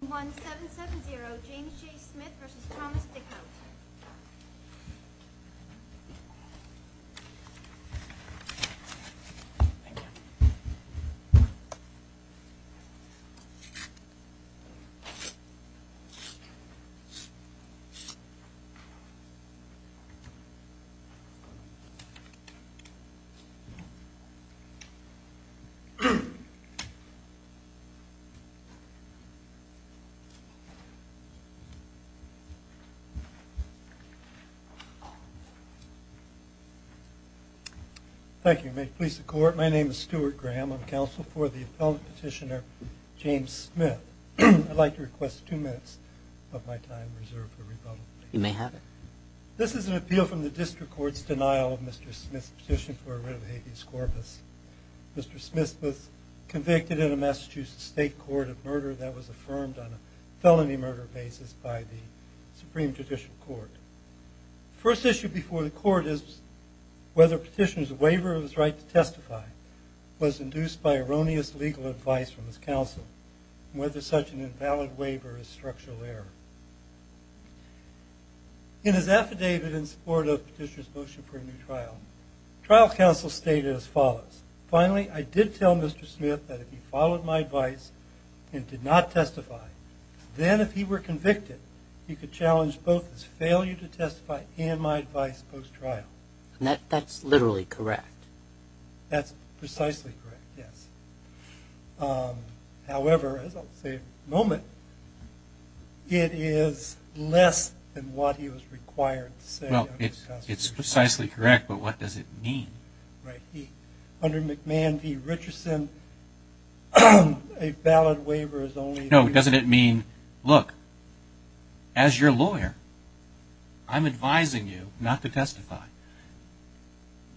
1770 James J. Smith v. Thomas Dickhaut Thank you. May it please the court. My name is Stuart Graham. I'm counsel for the appellate petitioner, James Smith. I'd like to request two minutes of my time reserved for rebuttal. You may have it. This is an appeal from the district court's denial of Mr. Smith's petition for a writ of habeas corpus. Mr. Smith was convicted in a Massachusetts state court of murder basis by the Supreme Judicial Court. First issue before the court is whether petitioner's waiver of his right to testify was induced by erroneous legal advice from his counsel and whether such an invalid waiver is structural error. In his affidavit in support of petitioner's motion for a new trial, trial counsel stated as follows. Finally, I did tell Mr. Smith that if he followed my advice and did not testify, then if he were convicted, he could challenge both his failure to testify and my advice post-trial. And that's literally correct? That's precisely correct, yes. However, as I'll say in a moment, it is less than what he was required to say. Well, it's precisely correct, but what does it mean? Under McMahon v. Richardson, a valid waiver is only... No, doesn't it mean, look, as your lawyer, I'm advising you not to testify.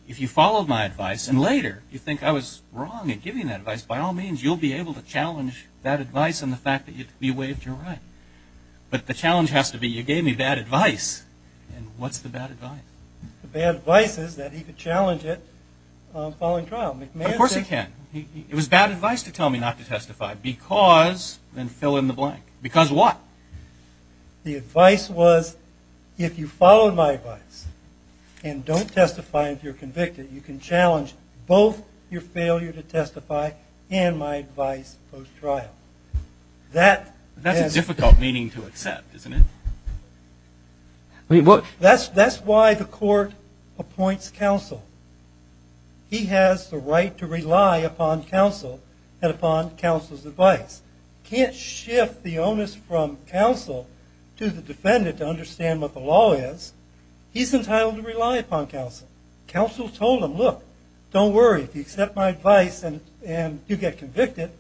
If you followed my advice and later you think I was wrong in giving that advice, by all means, you'll be able to challenge that advice and the fact that you waived your right. But the challenge has to be you gave me bad advice. And what's the bad advice? The bad advice is that he could challenge it following trial. Of course he can. It was bad advice to tell me not to testify because, then fill in the blank. Because what? The advice was, if you followed my advice and don't testify if you're convicted, you can challenge both your failure to testify and my advice post-trial. That's a difficult meaning to accept, isn't it? That's why the court appoints counsel. He has the right to rely upon counsel and upon counsel's advice. Can't shift the onus from counsel to the defendant to understand what the law is. He's entitled to rely upon counsel. Counsel told him, look, don't worry. If you accept my advice and you get convicted,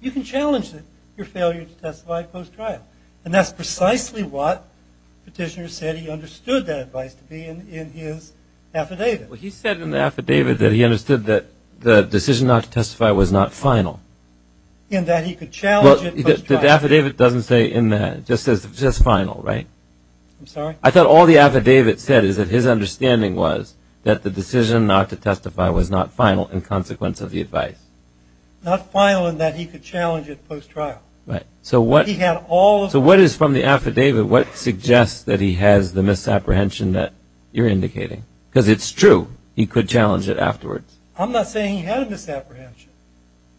you can challenge your failure to testify post-trial. And that's precisely what Petitioner said he understood that advice to be in his affidavit. He said in the affidavit that he understood that the decision not to testify was not final. In that he could challenge it post-trial. The affidavit doesn't say in that. It just says final, right? I'm sorry? I thought all the affidavit said is that his understanding was that the decision not to testify was not final in consequence of the advice. Not final in that he could challenge it post-trial. Right. So what is from the affidavit, what suggests that he has the misapprehension that you're indicating? Because it's true. He could challenge it afterwards. I'm not saying he had a misapprehension.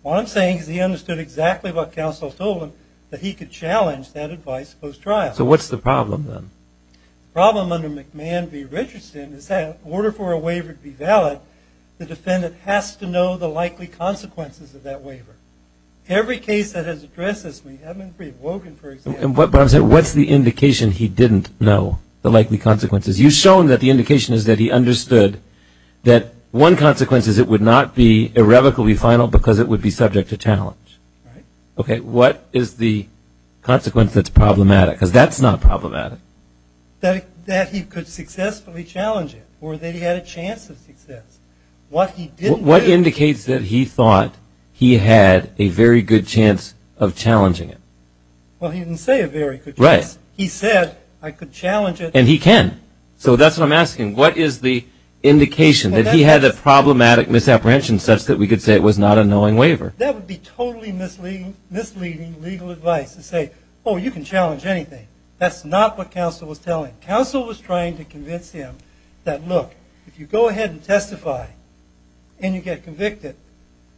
What I'm saying is he understood exactly what counsel told him that he could challenge that advice post-trial. So what's the problem then? The problem under McMahon v. Richardson is that in order for a waiver to be valid, the defendant has to know the likely consequences of that waiver. Every case that has addressed this we haven't been free. Wogan, for example. But I'm saying what's the indication he didn't know the likely consequences? You've shown that the indication is that he understood that one consequence is it would not be irrevocably final because it would be subject to challenge. Right. Okay. What is the consequence that's problematic? Because that's not problematic. That he could successfully challenge it or that he had a chance of success. What indicates that he thought he had a very good chance of challenging it? Well, he didn't say a very good chance. Right. He said I could challenge it. And he can. So that's what I'm asking. What is the indication that he had a problematic misapprehension such that we could say it was not a knowing waiver? That would be totally misleading legal advice to say, oh, you can challenge anything. That's not what counsel was telling. Counsel was trying to convince him that, look, if you go ahead and testify and you get convicted,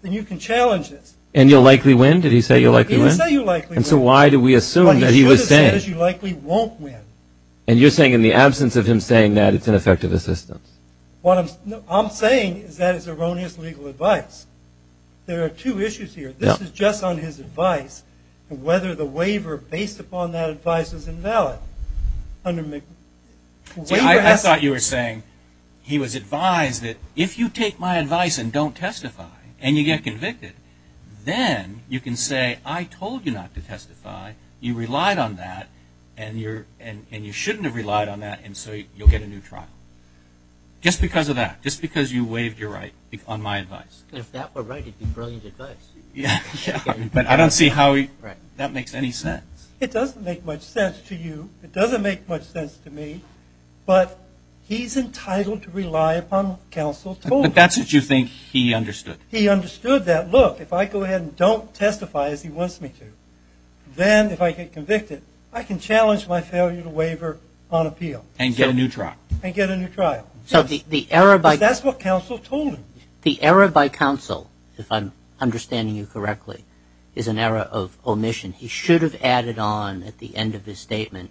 then you can challenge this. And you'll likely win? Did he say you'll likely win? He said you'll likely win. And so why do we assume that he was saying? Well, he should have said you likely won't win. And you're saying in the absence of him saying that, it's ineffective assistance? What I'm saying is that is erroneous legal advice. There are two issues here. This is just on his advice and whether the waiver based upon that advice is invalid. See, I thought you were saying he was advised that if you take my advice and don't testify and you get convicted, then you can say I told you not to testify, you relied on that, and you shouldn't have relied on that, and so you'll get a new trial. Just because of that. Just because you waived your right on my advice. If that were right, it would be brilliant advice. But I don't see how that makes any sense. It doesn't make much sense to you. It doesn't make much sense to me. But he's entitled to rely upon what counsel told him. But that's what you think he understood? He understood that, look, if I go ahead and don't testify as he wants me to, then if I get convicted, I can challenge my failure to waiver on appeal. And get a new trial. And get a new trial. So the error by counsel, if I'm understanding you correctly, is an error of omission. He should have added on at the end of his statement.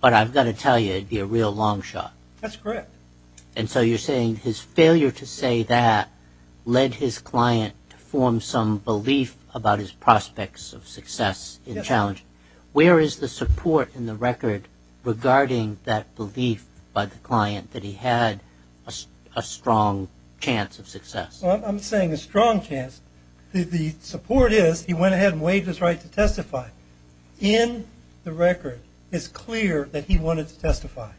But I've got to tell you, it would be a real long shot. That's correct. And so you're saying his failure to say that led his client to form some belief about his prospects of success in the challenge. Where is the support in the record regarding that belief by the client that he had a strong chance of success? I'm saying a strong chance. The support is he went ahead and waived his right to testify. In the record, it's clear that he wanted to testify.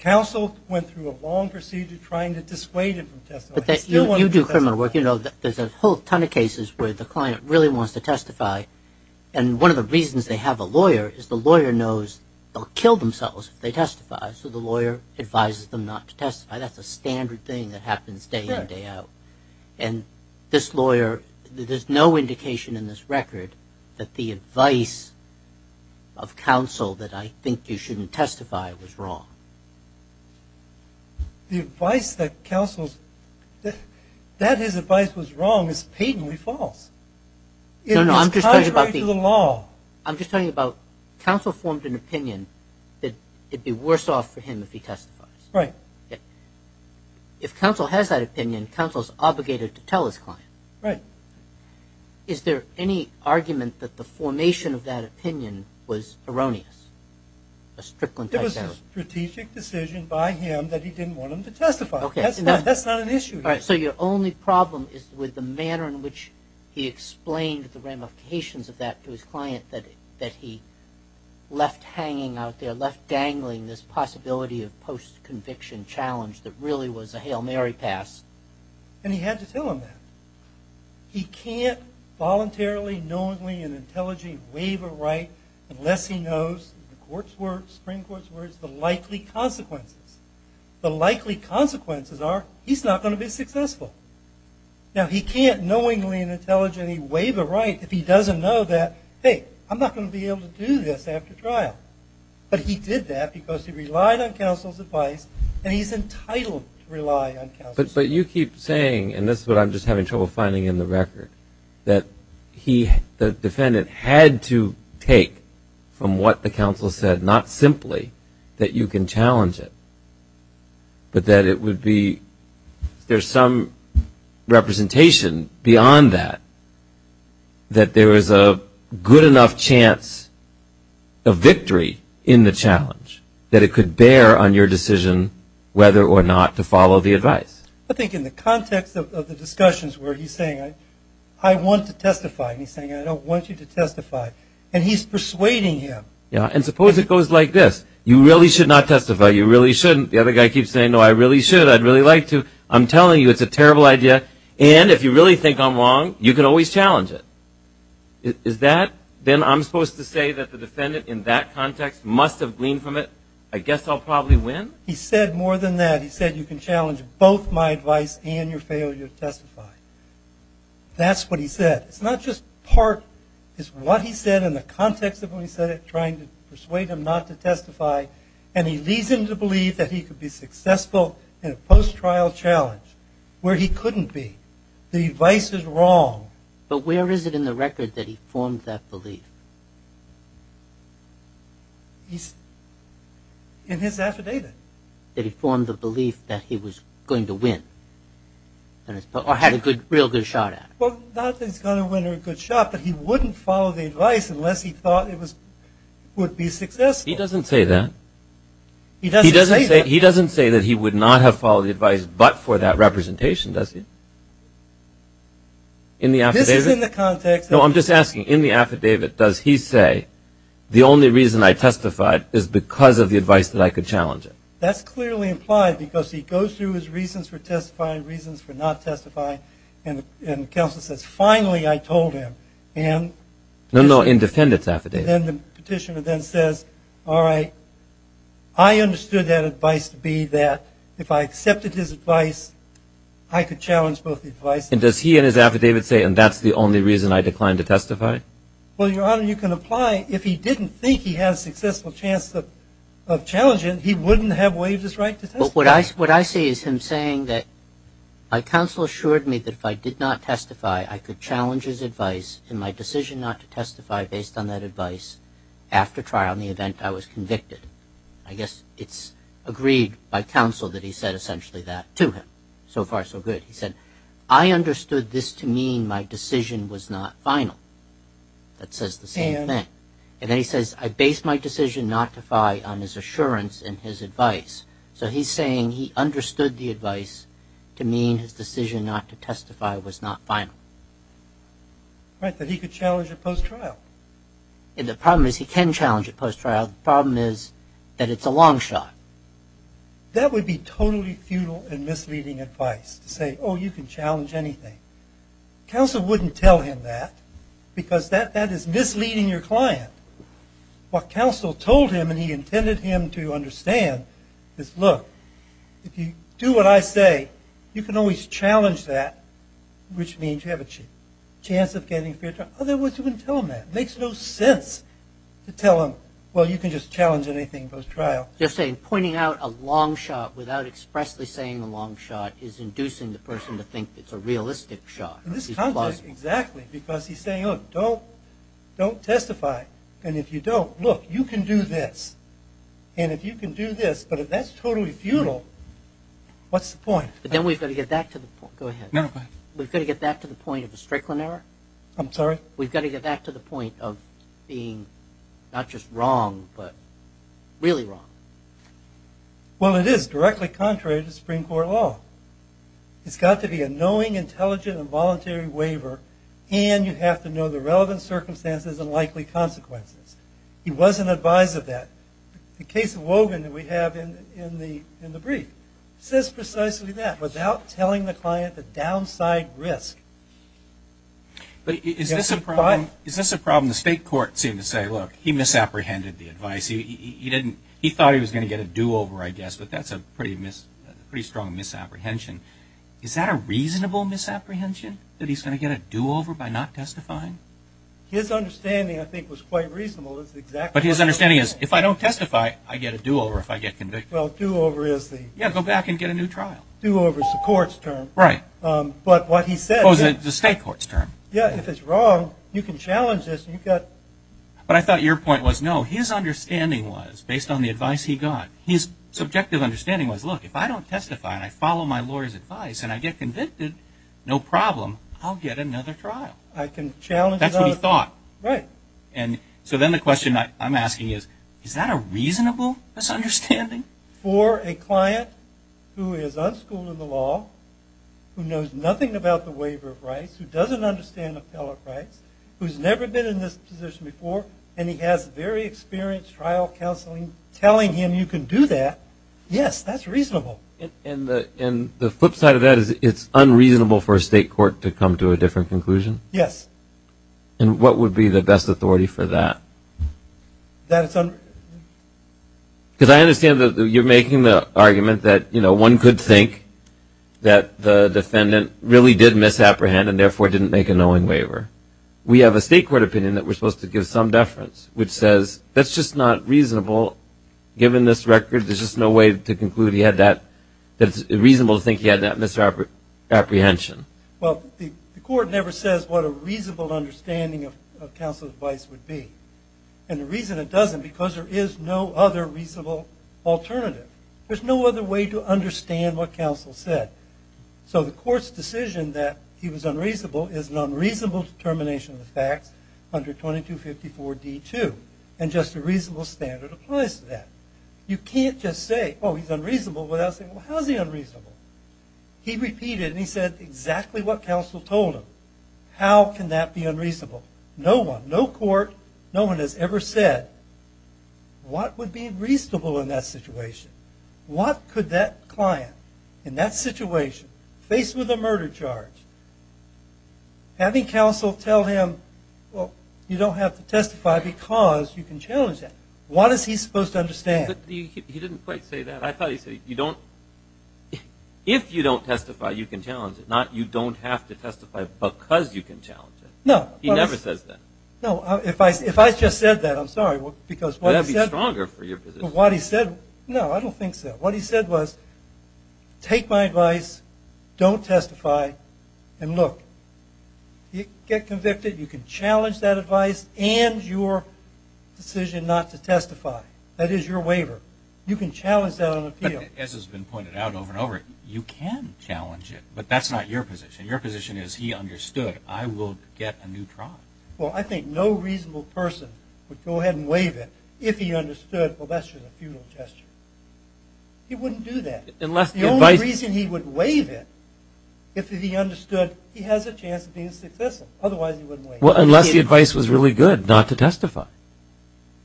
Counsel went through a long procedure trying to dissuade him from testifying. You do criminal work. You know there's a whole ton of cases where the client really wants to testify. And one of the reasons they have a lawyer is the lawyer knows they'll kill themselves if they testify. So the lawyer advises them not to testify. That's a standard thing that happens day in, day out. And this lawyer, there's no indication in this record that the advice of counsel that I think you shouldn't testify was wrong. The advice that counsel's, that his advice was wrong is patently false. It is contrary to the law. I'm just talking about counsel formed an opinion that it would be worse off for him if he testifies. Right. If counsel has that opinion, counsel's obligated to tell his client. Right. Is there any argument that the formation of that opinion was erroneous? There was a strategic decision by him that he didn't want him to testify. That's not an issue. So your only problem is with the manner in which he explained the ramifications of that to his client that he left hanging out there, left dangling this possibility of post-conviction challenge that really was a Hail Mary pass. And he had to tell him that. He can't voluntarily, knowingly, and intelligently waive a right unless he knows, in the Supreme Court's words, the likely consequences. The likely consequences are he's not going to be successful. Now, he can't knowingly and intelligently waive a right if he doesn't know that, hey, I'm not going to be able to do this after trial. But he did that because he relied on counsel's advice, and he's entitled to rely on counsel's advice. But you keep saying, and this is what I'm just having trouble finding in the record, that the defendant had to take from what the counsel said, not simply that you can challenge it, but that it would be there's some representation beyond that, that there is a good enough chance of victory in the challenge that it could bear on your decision whether or not to follow the advice. I think in the context of the discussions where he's saying, I want to testify, and he's saying I don't want you to testify, and he's persuading him. Yeah, and suppose it goes like this. You really should not testify. You really shouldn't. The other guy keeps saying, no, I really should. I'd really like to. I'm telling you it's a terrible idea, and if you really think I'm wrong, you can always challenge it. Is that then I'm supposed to say that the defendant in that context must have gleaned from it, I guess I'll probably win? He said more than that. He said you can challenge both my advice and your failure to testify. That's what he said. It's not just part. It's what he said in the context of when he said it, trying to persuade him not to testify, and he leads him to believe that he could be successful in a post-trial challenge where he couldn't be. The advice is wrong. But where is it in the record that he formed that belief? In his affidavit. That he formed the belief that he was going to win or had a real good shot at it. Well, not that he's going to win or a good shot, but he wouldn't follow the advice unless he thought it would be successful. He doesn't say that. He doesn't say that. He doesn't say that he would not have followed the advice but for that representation, does he? In the affidavit? This is in the context. No, I'm just asking, in the affidavit, does he say, the only reason I testified is because of the advice that I could challenge it? That's clearly implied because he goes through his reasons for testifying, reasons for not testifying, and the counsel says, finally, I told him. No, no, in defendant's affidavit. Then the petitioner then says, all right, I understood that advice to be that if I accepted his advice, I could challenge both the advice. And does he in his affidavit say, and that's the only reason I declined to testify? Well, Your Honor, you can apply. If he didn't think he had a successful chance of challenging it, he wouldn't have waived his right to testify. But what I see is him saying that my counsel assured me that if I did not testify, I could challenge his advice in my decision not to testify based on that advice after trial in the event I was convicted. I guess it's agreed by counsel that he said essentially that to him. So far, so good. He said, I understood this to mean my decision was not final. That says the same thing. And then he says, I based my decision not to file on his assurance and his advice. So he's saying he understood the advice to mean his decision not to testify was not final. Right, that he could challenge it post-trial. And the problem is he can challenge it post-trial. The problem is that it's a long shot. That would be totally futile and misleading advice to say, oh, you can challenge anything. Counsel wouldn't tell him that because that is misleading your client. What counsel told him and he intended him to understand is, look, if you do what I say, you can always challenge that, which means you have a chance of getting free trial. Otherwise, you wouldn't tell him that. It makes no sense to tell him, well, you can just challenge anything post-trial. They're saying pointing out a long shot without expressly saying a long shot is inducing the person to think it's a realistic shot. This contradicts exactly because he's saying, look, don't testify. And if you don't, look, you can do this. And if you can do this, but if that's totally futile, what's the point? But then we've got to get back to the point. Go ahead. No, no, go ahead. We've got to get back to the point of a Strickland error. I'm sorry? We've got to get back to the point of being not just wrong but really wrong. Well, it is directly contrary to Supreme Court law. It's got to be a knowing, intelligent, and voluntary waiver, and you have to know the relevant circumstances and likely consequences. He wasn't advised of that. The case of Wogan that we have in the brief says precisely that, without telling the client the downside risk. But is this a problem? Is this a problem? The state court seemed to say, look, he misapprehended the advice. He thought he was going to get a do-over, I guess, but that's a pretty strong misapprehension. Is that a reasonable misapprehension, that he's going to get a do-over by not testifying? His understanding, I think, was quite reasonable. But his understanding is, if I don't testify, I get a do-over if I get convicted. Well, do-over is the- Yeah, go back and get a new trial. Do-over is the court's term. Right. But what he said- Oh, is it the state court's term? Yeah, if it's wrong, you can challenge this. But I thought your point was, no. His understanding was, based on the advice he got, his subjective understanding was, look, if I don't testify and I follow my lawyer's advice and I get convicted, no problem. I'll get another trial. I can challenge- That's what he thought. Right. And so then the question I'm asking is, is that a reasonable misunderstanding? For a client who is unschooled in the law, who knows nothing about the waiver of rights, who doesn't understand appellate rights, who's never been in this position before, and he has very experienced trial counseling telling him you can do that, yes, that's reasonable. And the flip side of that is it's unreasonable for a state court to come to a different conclusion? Yes. And what would be the best authority for that? Because I understand that you're making the argument that, you know, one could think that the defendant really did misapprehend and, therefore, didn't make a knowing waiver. However, we have a state court opinion that we're supposed to give some deference, which says that's just not reasonable. Given this record, there's just no way to conclude he had that, that it's reasonable to think he had that misapprehension. Well, the court never says what a reasonable understanding of counsel's advice would be. And the reason it doesn't, because there is no other reasonable alternative. There's no other way to understand what counsel said. So the court's decision that he was unreasonable is an unreasonable determination of the facts under 2254D2, and just a reasonable standard applies to that. You can't just say, oh, he's unreasonable without saying, well, how is he unreasonable? He repeated and he said exactly what counsel told him. How can that be unreasonable? No one, no court, no one has ever said what would be reasonable in that situation. What could that client in that situation, faced with a murder charge, having counsel tell him, well, you don't have to testify because you can challenge that, what is he supposed to understand? He didn't quite say that. I thought he said, if you don't testify, you can challenge it, not you don't have to testify because you can challenge it. No. He never says that. No, if I just said that, I'm sorry, because what he said. It would be stronger for your position. No, I don't think so. What he said was, take my advice, don't testify, and look, get convicted, you can challenge that advice and your decision not to testify. That is your waiver. You can challenge that on appeal. As has been pointed out over and over, you can challenge it, but that's not your position. Your position is he understood, I will get a new trial. Well, I think no reasonable person would go ahead and waive it if he understood, well, that's just a futile gesture. He wouldn't do that. The only reason he would waive it if he understood, he has a chance of being successful. Otherwise, he wouldn't waive it. Well, unless the advice was really good not to testify.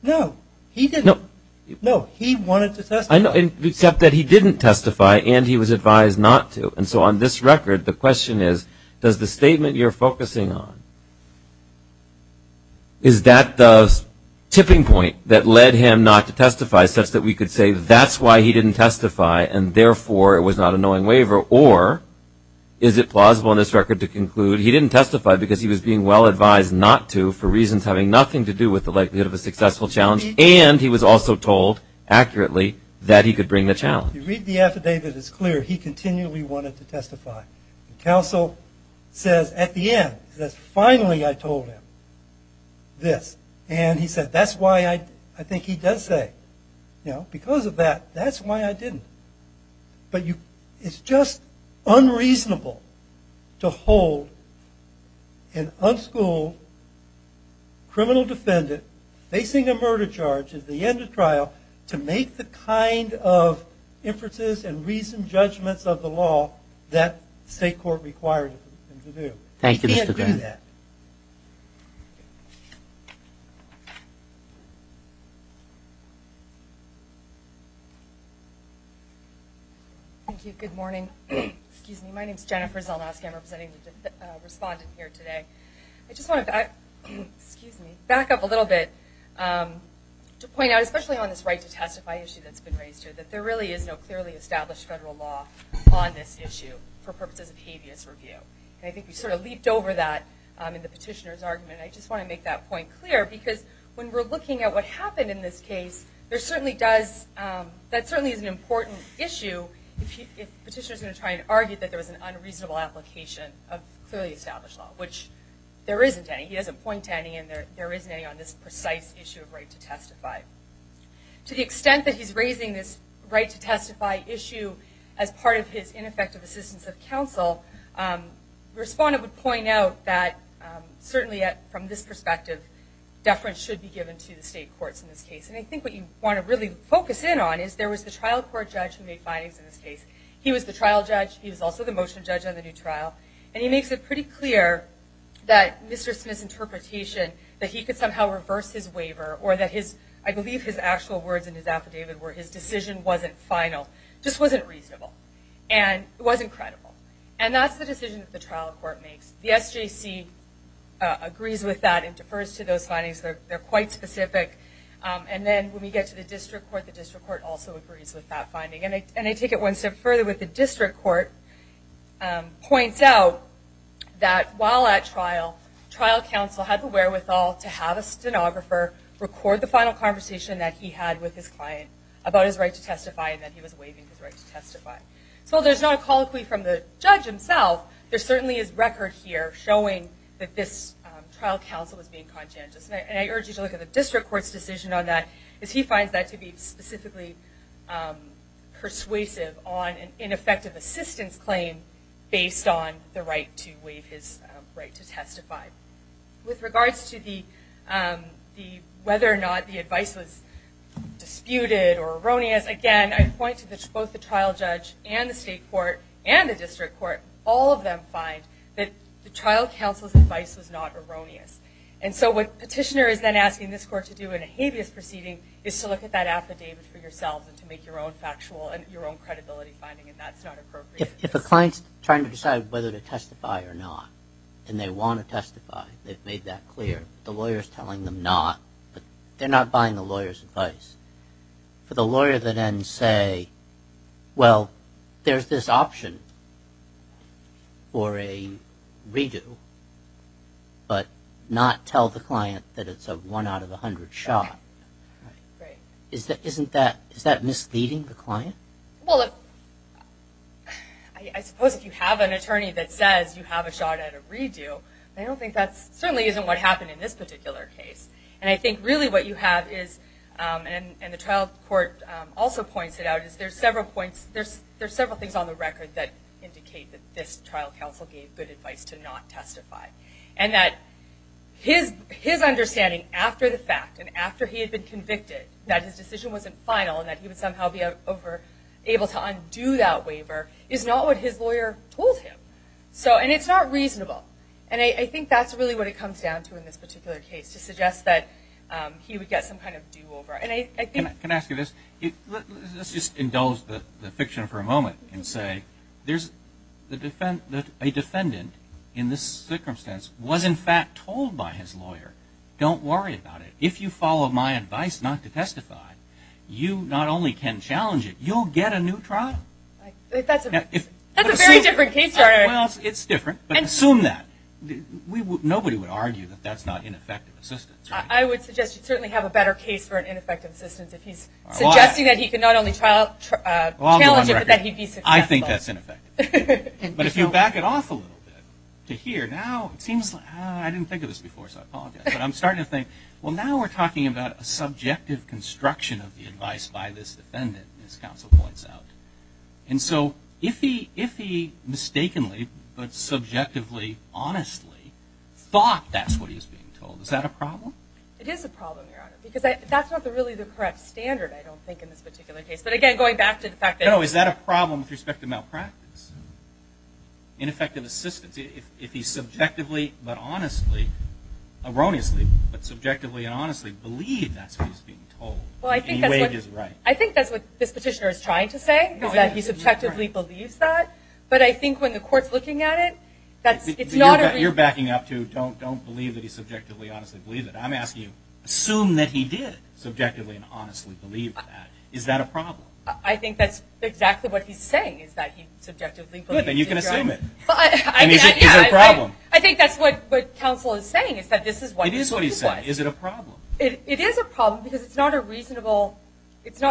No, he wanted to testify. Except that he didn't testify and he was advised not to. And so on this record, the question is, does the statement you're focusing on, is that the tipping point that led him not to testify such that we could say that's why he didn't testify and therefore it was not a knowing waiver? Or is it plausible on this record to conclude he didn't testify because he was being well advised not to for reasons having nothing to do with the likelihood of a successful challenge and he was also told accurately that he could bring the challenge? If you read the affidavit, it's clear he continually wanted to testify. The counsel says at the end, he says, finally I told him this. And he said, that's why I think he does say, you know, because of that, that's why I didn't. But it's just unreasonable to hold an unschooled criminal defendant facing a murder charge at the end of trial to make the kind of inferences and reasoned judgments of the law that state court required him to do. He can't do that. Thank you, Mr. Gray. Thank you. Good morning. My name is Jennifer Zelnowski. I'm representing the defendant, the respondent here today. I just want to back up a little bit to point out, especially on this right to testify issue that's been raised here, that there really is no clearly established federal law on this issue for purposes of habeas review. And I think we sort of leaped over that in the petitioner's argument. I just want to make that point clear because when we're looking at what happened in this case, there certainly does, that certainly is an important issue if petitioners are going to try and argue that there was an unreasonable application of clearly established law, which there isn't any. He doesn't point to any, and there isn't any on this precise issue of right to testify. To the extent that he's raising this right to testify issue as part of his ineffective assistance of counsel, the respondent would point out that certainly from this perspective, deference should be given to the state courts in this case. And I think what you want to really focus in on is there was the trial court judge who made findings in this case. He was the trial judge. He was also the motion judge on the new trial. And he makes it pretty clear that Mr. Smith's interpretation that he could somehow reverse his waiver or that his, I believe his actual words in his affidavit were his decision wasn't final, just wasn't reasonable, and it wasn't credible. And that's the decision that the trial court makes. The SJC agrees with that and defers to those findings. They're quite specific. And then when we get to the district court, the district court also agrees with that finding. And I take it one step further with the district court points out that while at trial, trial counsel had the wherewithal to have a stenographer record the final conversation that he had with his client about his right to testify and that he was waiving his right to testify. So there's not a colloquy from the judge himself. There certainly is record here showing that this trial counsel was being conscientious. And I urge you to look at the district court's decision on that, as he finds that to be specifically persuasive on an ineffective assistance claim based on the right to waive his right to testify. With regards to whether or not the advice was disputed or erroneous, again, I point to both the trial judge and the state court and the district court, all of them find that the trial counsel's advice was not erroneous. And so what petitioner is then asking this court to do in a habeas proceeding is to look at that affidavit for yourselves and to make your own factual and your own credibility finding, and that's not appropriate. If a client's trying to decide whether to testify or not, and they want to testify, they've made that clear, the lawyer's telling them not. They're not buying the lawyer's advice. For the lawyer to then say, well, there's this option for a redo, but not tell the client that it's a one out of a hundred shot, isn't that misleading the client? Well, I suppose if you have an attorney that says you have a shot at a redo, I don't think that's certainly isn't what happened in this particular case. And I think really what you have is, and the trial court also points it out, is there's several points, there's several things on the record that indicate that this trial counsel gave good advice to not testify. And that his understanding after the fact and after he had been convicted that his decision wasn't final and that he would somehow be able to undo that waiver is not what his lawyer told him. And it's not reasonable. And I think that's really what it comes down to in this particular case, to suggest that he would get some kind of do over. And I think... Can I ask you this? Let's just indulge the fiction for a moment and say there's a defendant in this circumstance was in fact told by his lawyer, don't worry about it. If you follow my advice not to testify, you not only can challenge it, you'll get a new trial. That's a very different case. Well, it's different, but assume that. Nobody would argue that that's not ineffective assistance. I would suggest you certainly have a better case for ineffective assistance if he's suggesting that he can not only challenge it, but that he can be successful. I think that's ineffective. But if you back it off a little bit to here now, it seems like, I didn't think of this before, so I apologize. But I'm starting to think, well, now we're talking about a subjective construction of the advice by this defendant, as counsel points out. And so if he mistakenly, but subjectively, honestly, thought that's what he was being told, is that a problem? It is a problem, Your Honor, because that's not really the correct standard, I don't think, in this particular case. But again, going back to the fact that... No, is that a problem with respect to malpractice? Ineffective assistance, if he subjectively, but honestly, erroneously, but subjectively and honestly believed that's what he was being told. Well, I think that's what... I think that he subjectively believes that. But I think when the court's looking at it, it's not a... You're backing up to don't believe that he subjectively, honestly, believed it. I'm asking you, assume that he did subjectively and honestly believe that. Is that a problem? I think that's exactly what he's saying, is that he subjectively believed it. Good, then you can assume it. But I... Is it a problem? I think that's what counsel is saying, is that this is what he was... It is what he said. Is it a problem? It is a problem because it's not a reasonable... It just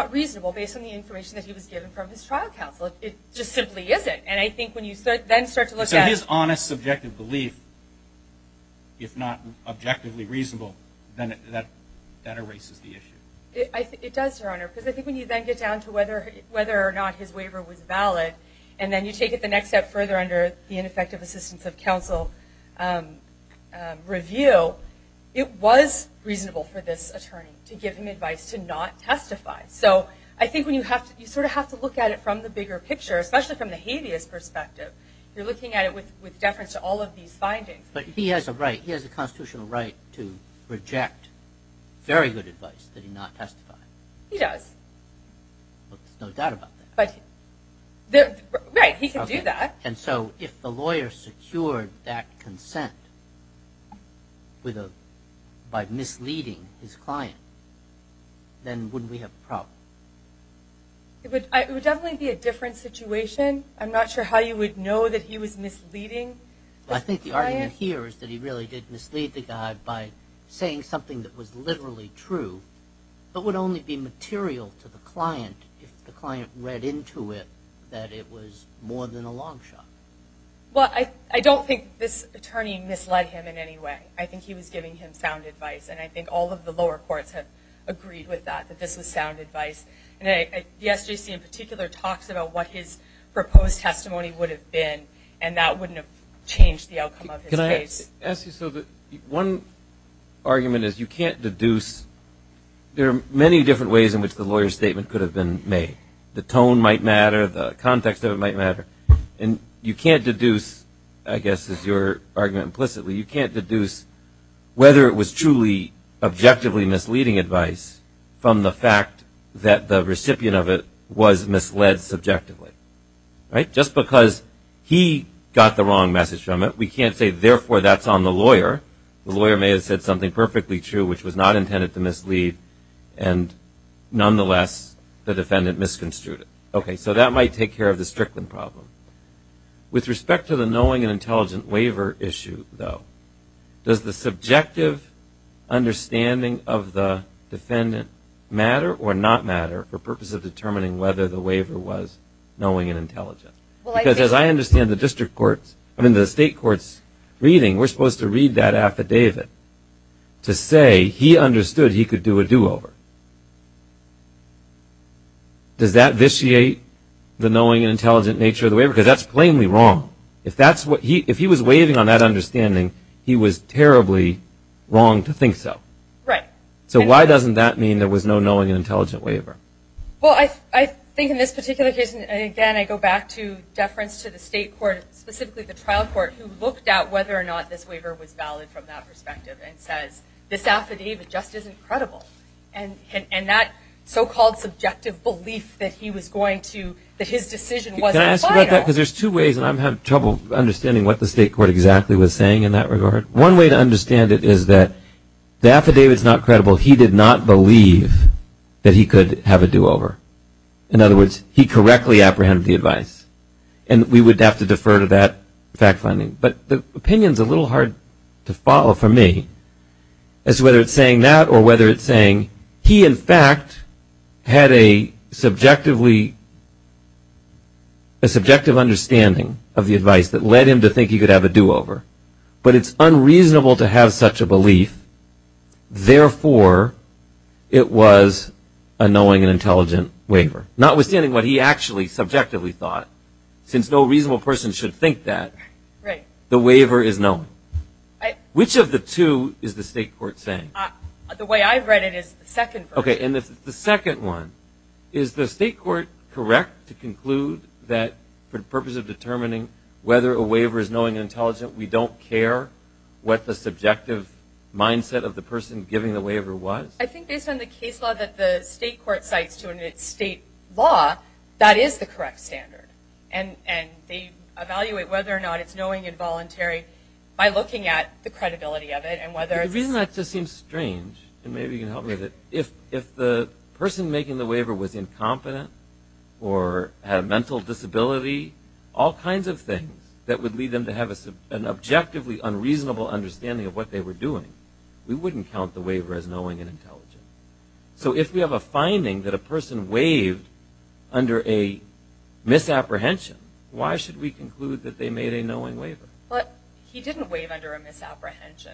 simply isn't. And I think when you then start to look at... So his honest, subjective belief, if not objectively reasonable, then that erases the issue. It does, Your Honor, because I think when you then get down to whether or not his waiver was valid, and then you take it the next step further under the ineffective assistance of counsel review, it was reasonable for this attorney to give him advice to not testify. So I think you sort of have to look at it from the bigger picture, especially from the habeas perspective. You're looking at it with deference to all of these findings. But he has a constitutional right to reject very good advice that he not testified. He does. There's no doubt about that. Right, he can do that. And so if the lawyer secured that consent by misleading his client, then wouldn't we have a problem? It would definitely be a different situation. I'm not sure how you would know that he was misleading his client. I think the argument here is that he really did mislead the guy by saying something that was literally true, but would only be material to the client if the client read into it that it was more than a long shot. Well, I don't think this attorney misled him in any way. I think he was giving him sound advice, and I think all of the lower courts have agreed with that, that this was sound advice. And the SJC in particular talks about what his proposed testimony would have been, and that wouldn't have changed the outcome of his case. Can I ask you so that one argument is you can't deduce. There are many different ways in which the lawyer's statement could have been made. The tone might matter. The context of it might matter. And you can't deduce, I guess is your argument implicitly, but you can't deduce whether it was truly objectively misleading advice from the fact that the recipient of it was misled subjectively. Just because he got the wrong message from it, we can't say, therefore, that's on the lawyer. The lawyer may have said something perfectly true, which was not intended to mislead, and nonetheless the defendant misconstrued it. So that might take care of the Strickland problem. With respect to the knowing and intelligent waiver issue, though, does the subjective understanding of the defendant matter or not matter for purpose of determining whether the waiver was knowing and intelligent? Because as I understand the district courts, I mean the state courts reading, we're supposed to read that affidavit to say he understood he could do a do-over. Does that vitiate the knowing and intelligent nature of the waiver? Because that's plainly wrong. If he was waiving on that understanding, he was terribly wrong to think so. Right. So why doesn't that mean there was no knowing and intelligent waiver? Well, I think in this particular case, and again I go back to deference to the state court, specifically the trial court, who looked at whether or not this waiver was valid from that perspective and says this affidavit just isn't credible. And that so-called subjective belief that he was going to, that his decision wasn't final. Can I ask you about that? Because there's two ways, and I'm having trouble understanding what the state court exactly was saying in that regard. One way to understand it is that the affidavit's not credible. He did not believe that he could have a do-over. In other words, he correctly apprehended the advice. And we would have to defer to that fact finding. But the opinion's a little hard to follow for me as to whether it's saying that or whether it's saying he, in fact, had a subjectively, a subjective understanding of the advice that led him to think he could have a do-over. But it's unreasonable to have such a belief. Therefore, it was a knowing and intelligent waiver. Notwithstanding what he actually subjectively thought, since no reasonable person should think that. Right. The waiver is knowing. Which of the two is the state court saying? The way I've read it is the second version. Okay, and the second one. Is the state court correct to conclude that for the purpose of determining whether a waiver is knowing and intelligent, we don't care what the subjective mindset of the person giving the waiver was? I think based on the case law that the state court cites to it in its state law, that is the correct standard. And they evaluate whether or not it's knowing and voluntary by looking at the credibility of it. The reason that just seems strange, and maybe you can help me with it, if the person making the waiver was incompetent or had a mental disability, all kinds of things that would lead them to have an objectively unreasonable understanding of what they were doing, we wouldn't count the waiver as knowing and intelligent. So if we have a finding that a person waived under a misapprehension, why should we conclude that they made a knowing waiver? He didn't waive under a misapprehension.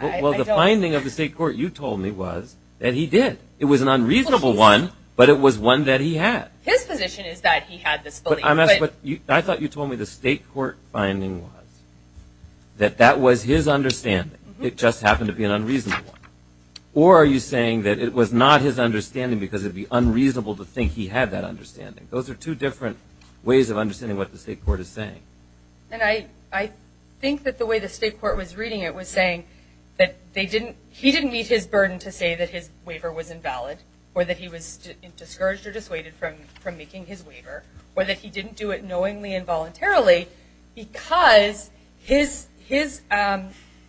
Well, the finding of the state court you told me was that he did. It was an unreasonable one, but it was one that he had. His position is that he had this belief. I thought you told me the state court finding was that that was his understanding. It just happened to be an unreasonable one. Or are you saying that it was not his understanding because it would be unreasonable to think he had that understanding? Those are two different ways of understanding what the state court is saying. And I think that the way the state court was reading it was saying that he didn't meet his burden to say that his waiver was invalid or that he was discouraged or dissuaded from making his waiver or that he didn't do it knowingly and voluntarily because his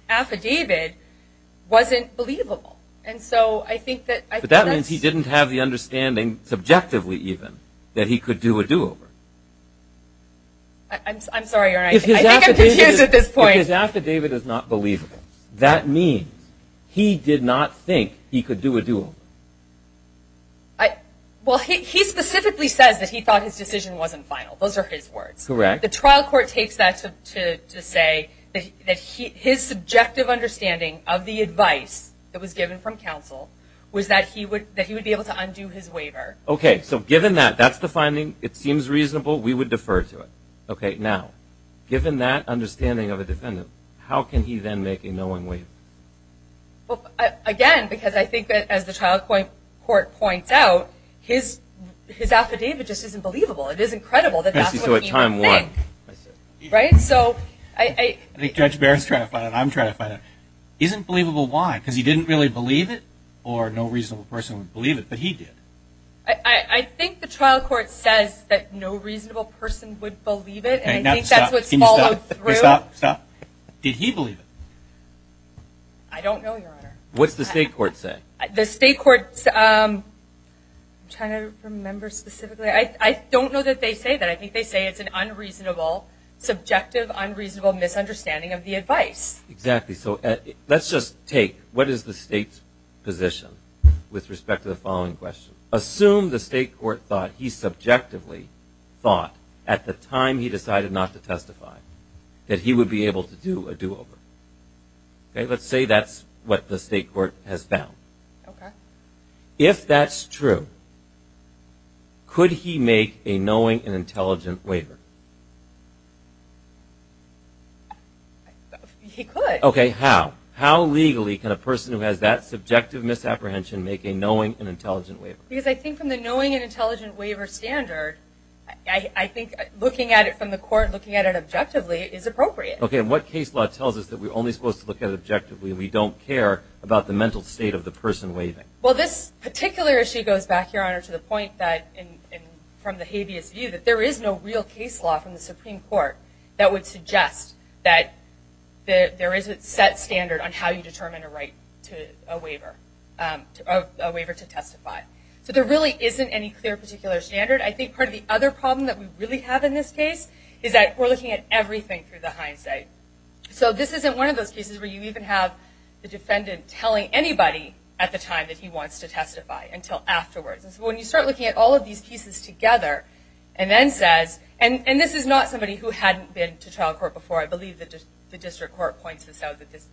affidavit wasn't believable. But that means he didn't have the understanding, subjectively even, that he could do a do-over. I'm sorry, Your Honor. I think I'm confused at this point. If his affidavit is not believable, that means he did not think he could do a do-over. Well, he specifically says that he thought his decision wasn't final. Those are his words. Correct. The trial court takes that to say that his subjective understanding of the advice that was given from counsel was that he would be able to undo his waiver. Okay. So given that, that's the finding. It seems reasonable. We would defer to it. Okay. Now, given that understanding of a defendant, how can he then make a knowing waiver? Well, again, because I think that as the trial court points out, his affidavit just isn't believable. It isn't credible that that's what he would think. Right? I think Judge Barrett is trying to find out. I'm trying to find out. It isn't believable why? Because he didn't really believe it or no reasonable person would believe it, but he did. I think the trial court says that no reasonable person would believe it, and I think that's what's followed through. Stop. Did he believe it? I don't know, Your Honor. What's the state court say? The state court's trying to remember specifically. I don't know that they say that. I think they say it's an unreasonable, subjective, unreasonable misunderstanding of the advice. Exactly. So let's just take what is the state's position with respect to the following question. Assume the state court thought he subjectively thought at the time he decided not to testify that he would be able to do a do-over. Okay? Let's say that's what the state court has found. Okay. If that's true, could he make a knowing and intelligent waiver? He could. Okay, how? How legally can a person who has that subjective misapprehension make a knowing and intelligent waiver? Because I think from the knowing and intelligent waiver standard, I think looking at it from the court, looking at it objectively is appropriate. Okay, and what case law tells us that we're only supposed to look at it objectively and we don't care about the mental state of the person waiving? Well, this particular issue goes back, Your Honor, to the point that from the habeas view that there is no real case law from the Supreme Court that would suggest that there is a set standard on how you determine a right to a waiver, a waiver to testify. So there really isn't any clear particular standard. I think part of the other problem that we really have in this case is that we're looking at everything through the hindsight. So this isn't one of those cases where you even have the defendant telling anybody at the time that he wants to testify until afterwards. And so when you start looking at all of these pieces together and then says, and this is not somebody who hadn't been to trial court before. I believe the district court points this out, that this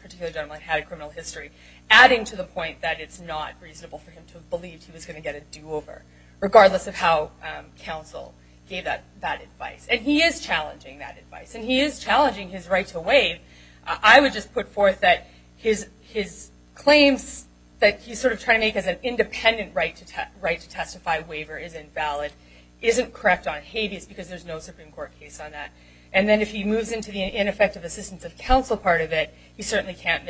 particular gentleman had a criminal history, adding to the point that it's not reasonable for him to have believed he was going to get a do-over, regardless of how counsel gave that advice. And he is challenging that advice, and he is challenging his right to waive. I would just put forth that his claims that he's sort of trying to make as an independent right to testify waiver is invalid isn't correct on habeas because there's no Supreme Court case on that. And then if he moves into the ineffective assistance of counsel part of it, he certainly can't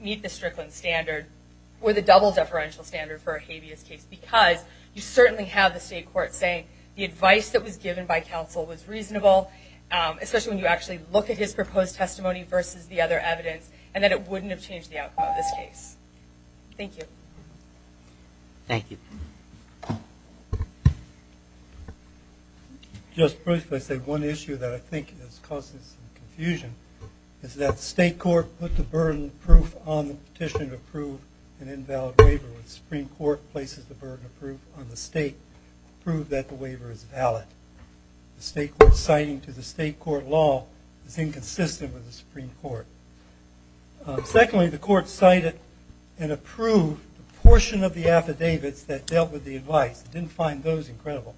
meet the Strickland standard with a double deferential standard for a habeas case because you certainly have the state court saying the advice that was given by counsel was reasonable, especially when you actually look at his proposed testimony versus the other evidence, and that it wouldn't have changed the outcome of this case. Thank you. Thank you. Just briefly, I'd say one issue that I think is causing some confusion is that state court put the burden of proof on the petition to approve an invalid waiver when the Supreme Court places the burden of proof on the state to prove that the waiver is valid. The state court's citing to the state court law is inconsistent with the Supreme Court. Secondly, the court cited and approved a portion of the affidavits that dealt with the advice. It didn't find those incredible.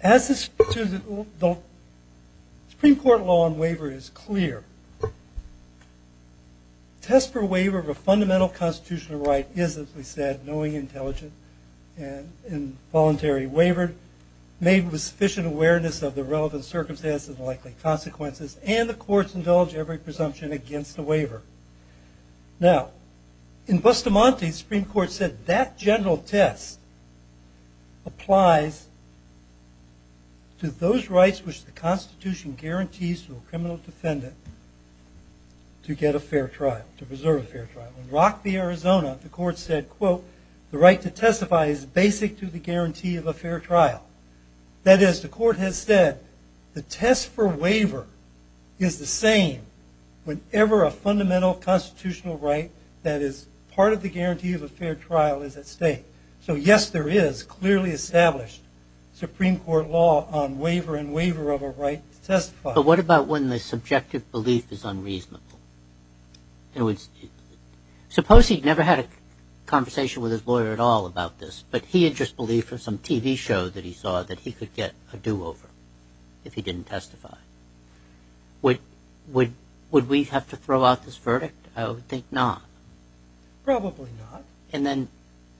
As the Supreme Court law on waiver is clear, test for waiver of a fundamental constitutional right is, as we said, knowing, intelligent, and involuntary waiver made with sufficient awareness of the relevant circumstances and likely consequences, and the courts indulge every presumption against the waiver. Now, in Bustamante, the Supreme Court said that general test applies to those rights which the Constitution guarantees to a criminal defendant to get a fair trial, to preserve a fair trial. In Rock v. Arizona, the court said, quote, the right to testify is basic to the guarantee of a fair trial. That is, the court has said the test for waiver is the same whenever a fundamental constitutional right that is part of the guarantee of a fair trial is at stake. So, yes, there is clearly established Supreme Court law on waiver and waiver of a right to testify. But what about when the subjective belief is unreasonable? Suppose he'd never had a conversation with his lawyer at all about this, but he had just believed from some TV show that he saw that he could get a do-over if he didn't testify. Would we have to throw out this verdict? I would think not. Probably not. And then,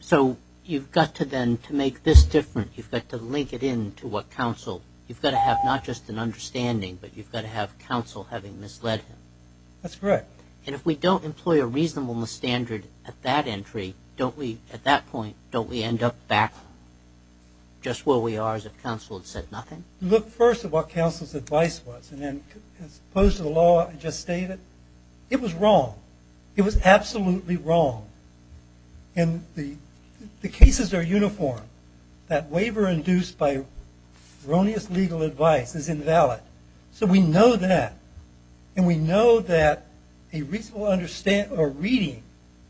so you've got to then, to make this different, you've got to link it in to what counsel, you've got to have not just an understanding, but you've got to have counsel having misled him. That's correct. And if we don't employ a reasonableness standard at that entry, don't we, at that point, don't we end up back just where we are as if counsel had said nothing? Look first at what counsel's advice was, and then as opposed to the law I just stated, it was wrong. It was absolutely wrong. And the cases are uniform. That waiver induced by erroneous legal advice is invalid. So we know that. And we know that a reasonable reading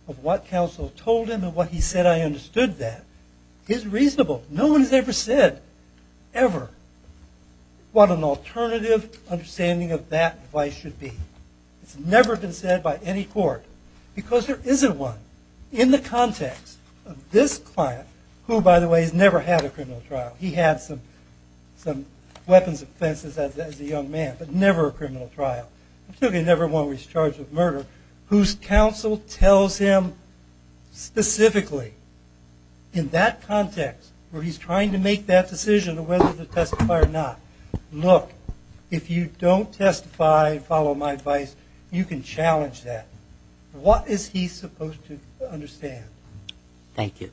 of what counsel told him and what he said, I understood that, is reasonable. No one has ever said, ever, what an alternative understanding of that advice should be. It's never been said by any court because there isn't one in the context of this client, who, by the way, has never had a criminal trial. He had some weapons offenses as a young man, but never a criminal trial, particularly never one where he's charged with murder, whose counsel tells him specifically in that context where he's trying to make that decision of whether to testify or not, look, if you don't testify and follow my advice, you can challenge that. What is he supposed to understand? Thank you.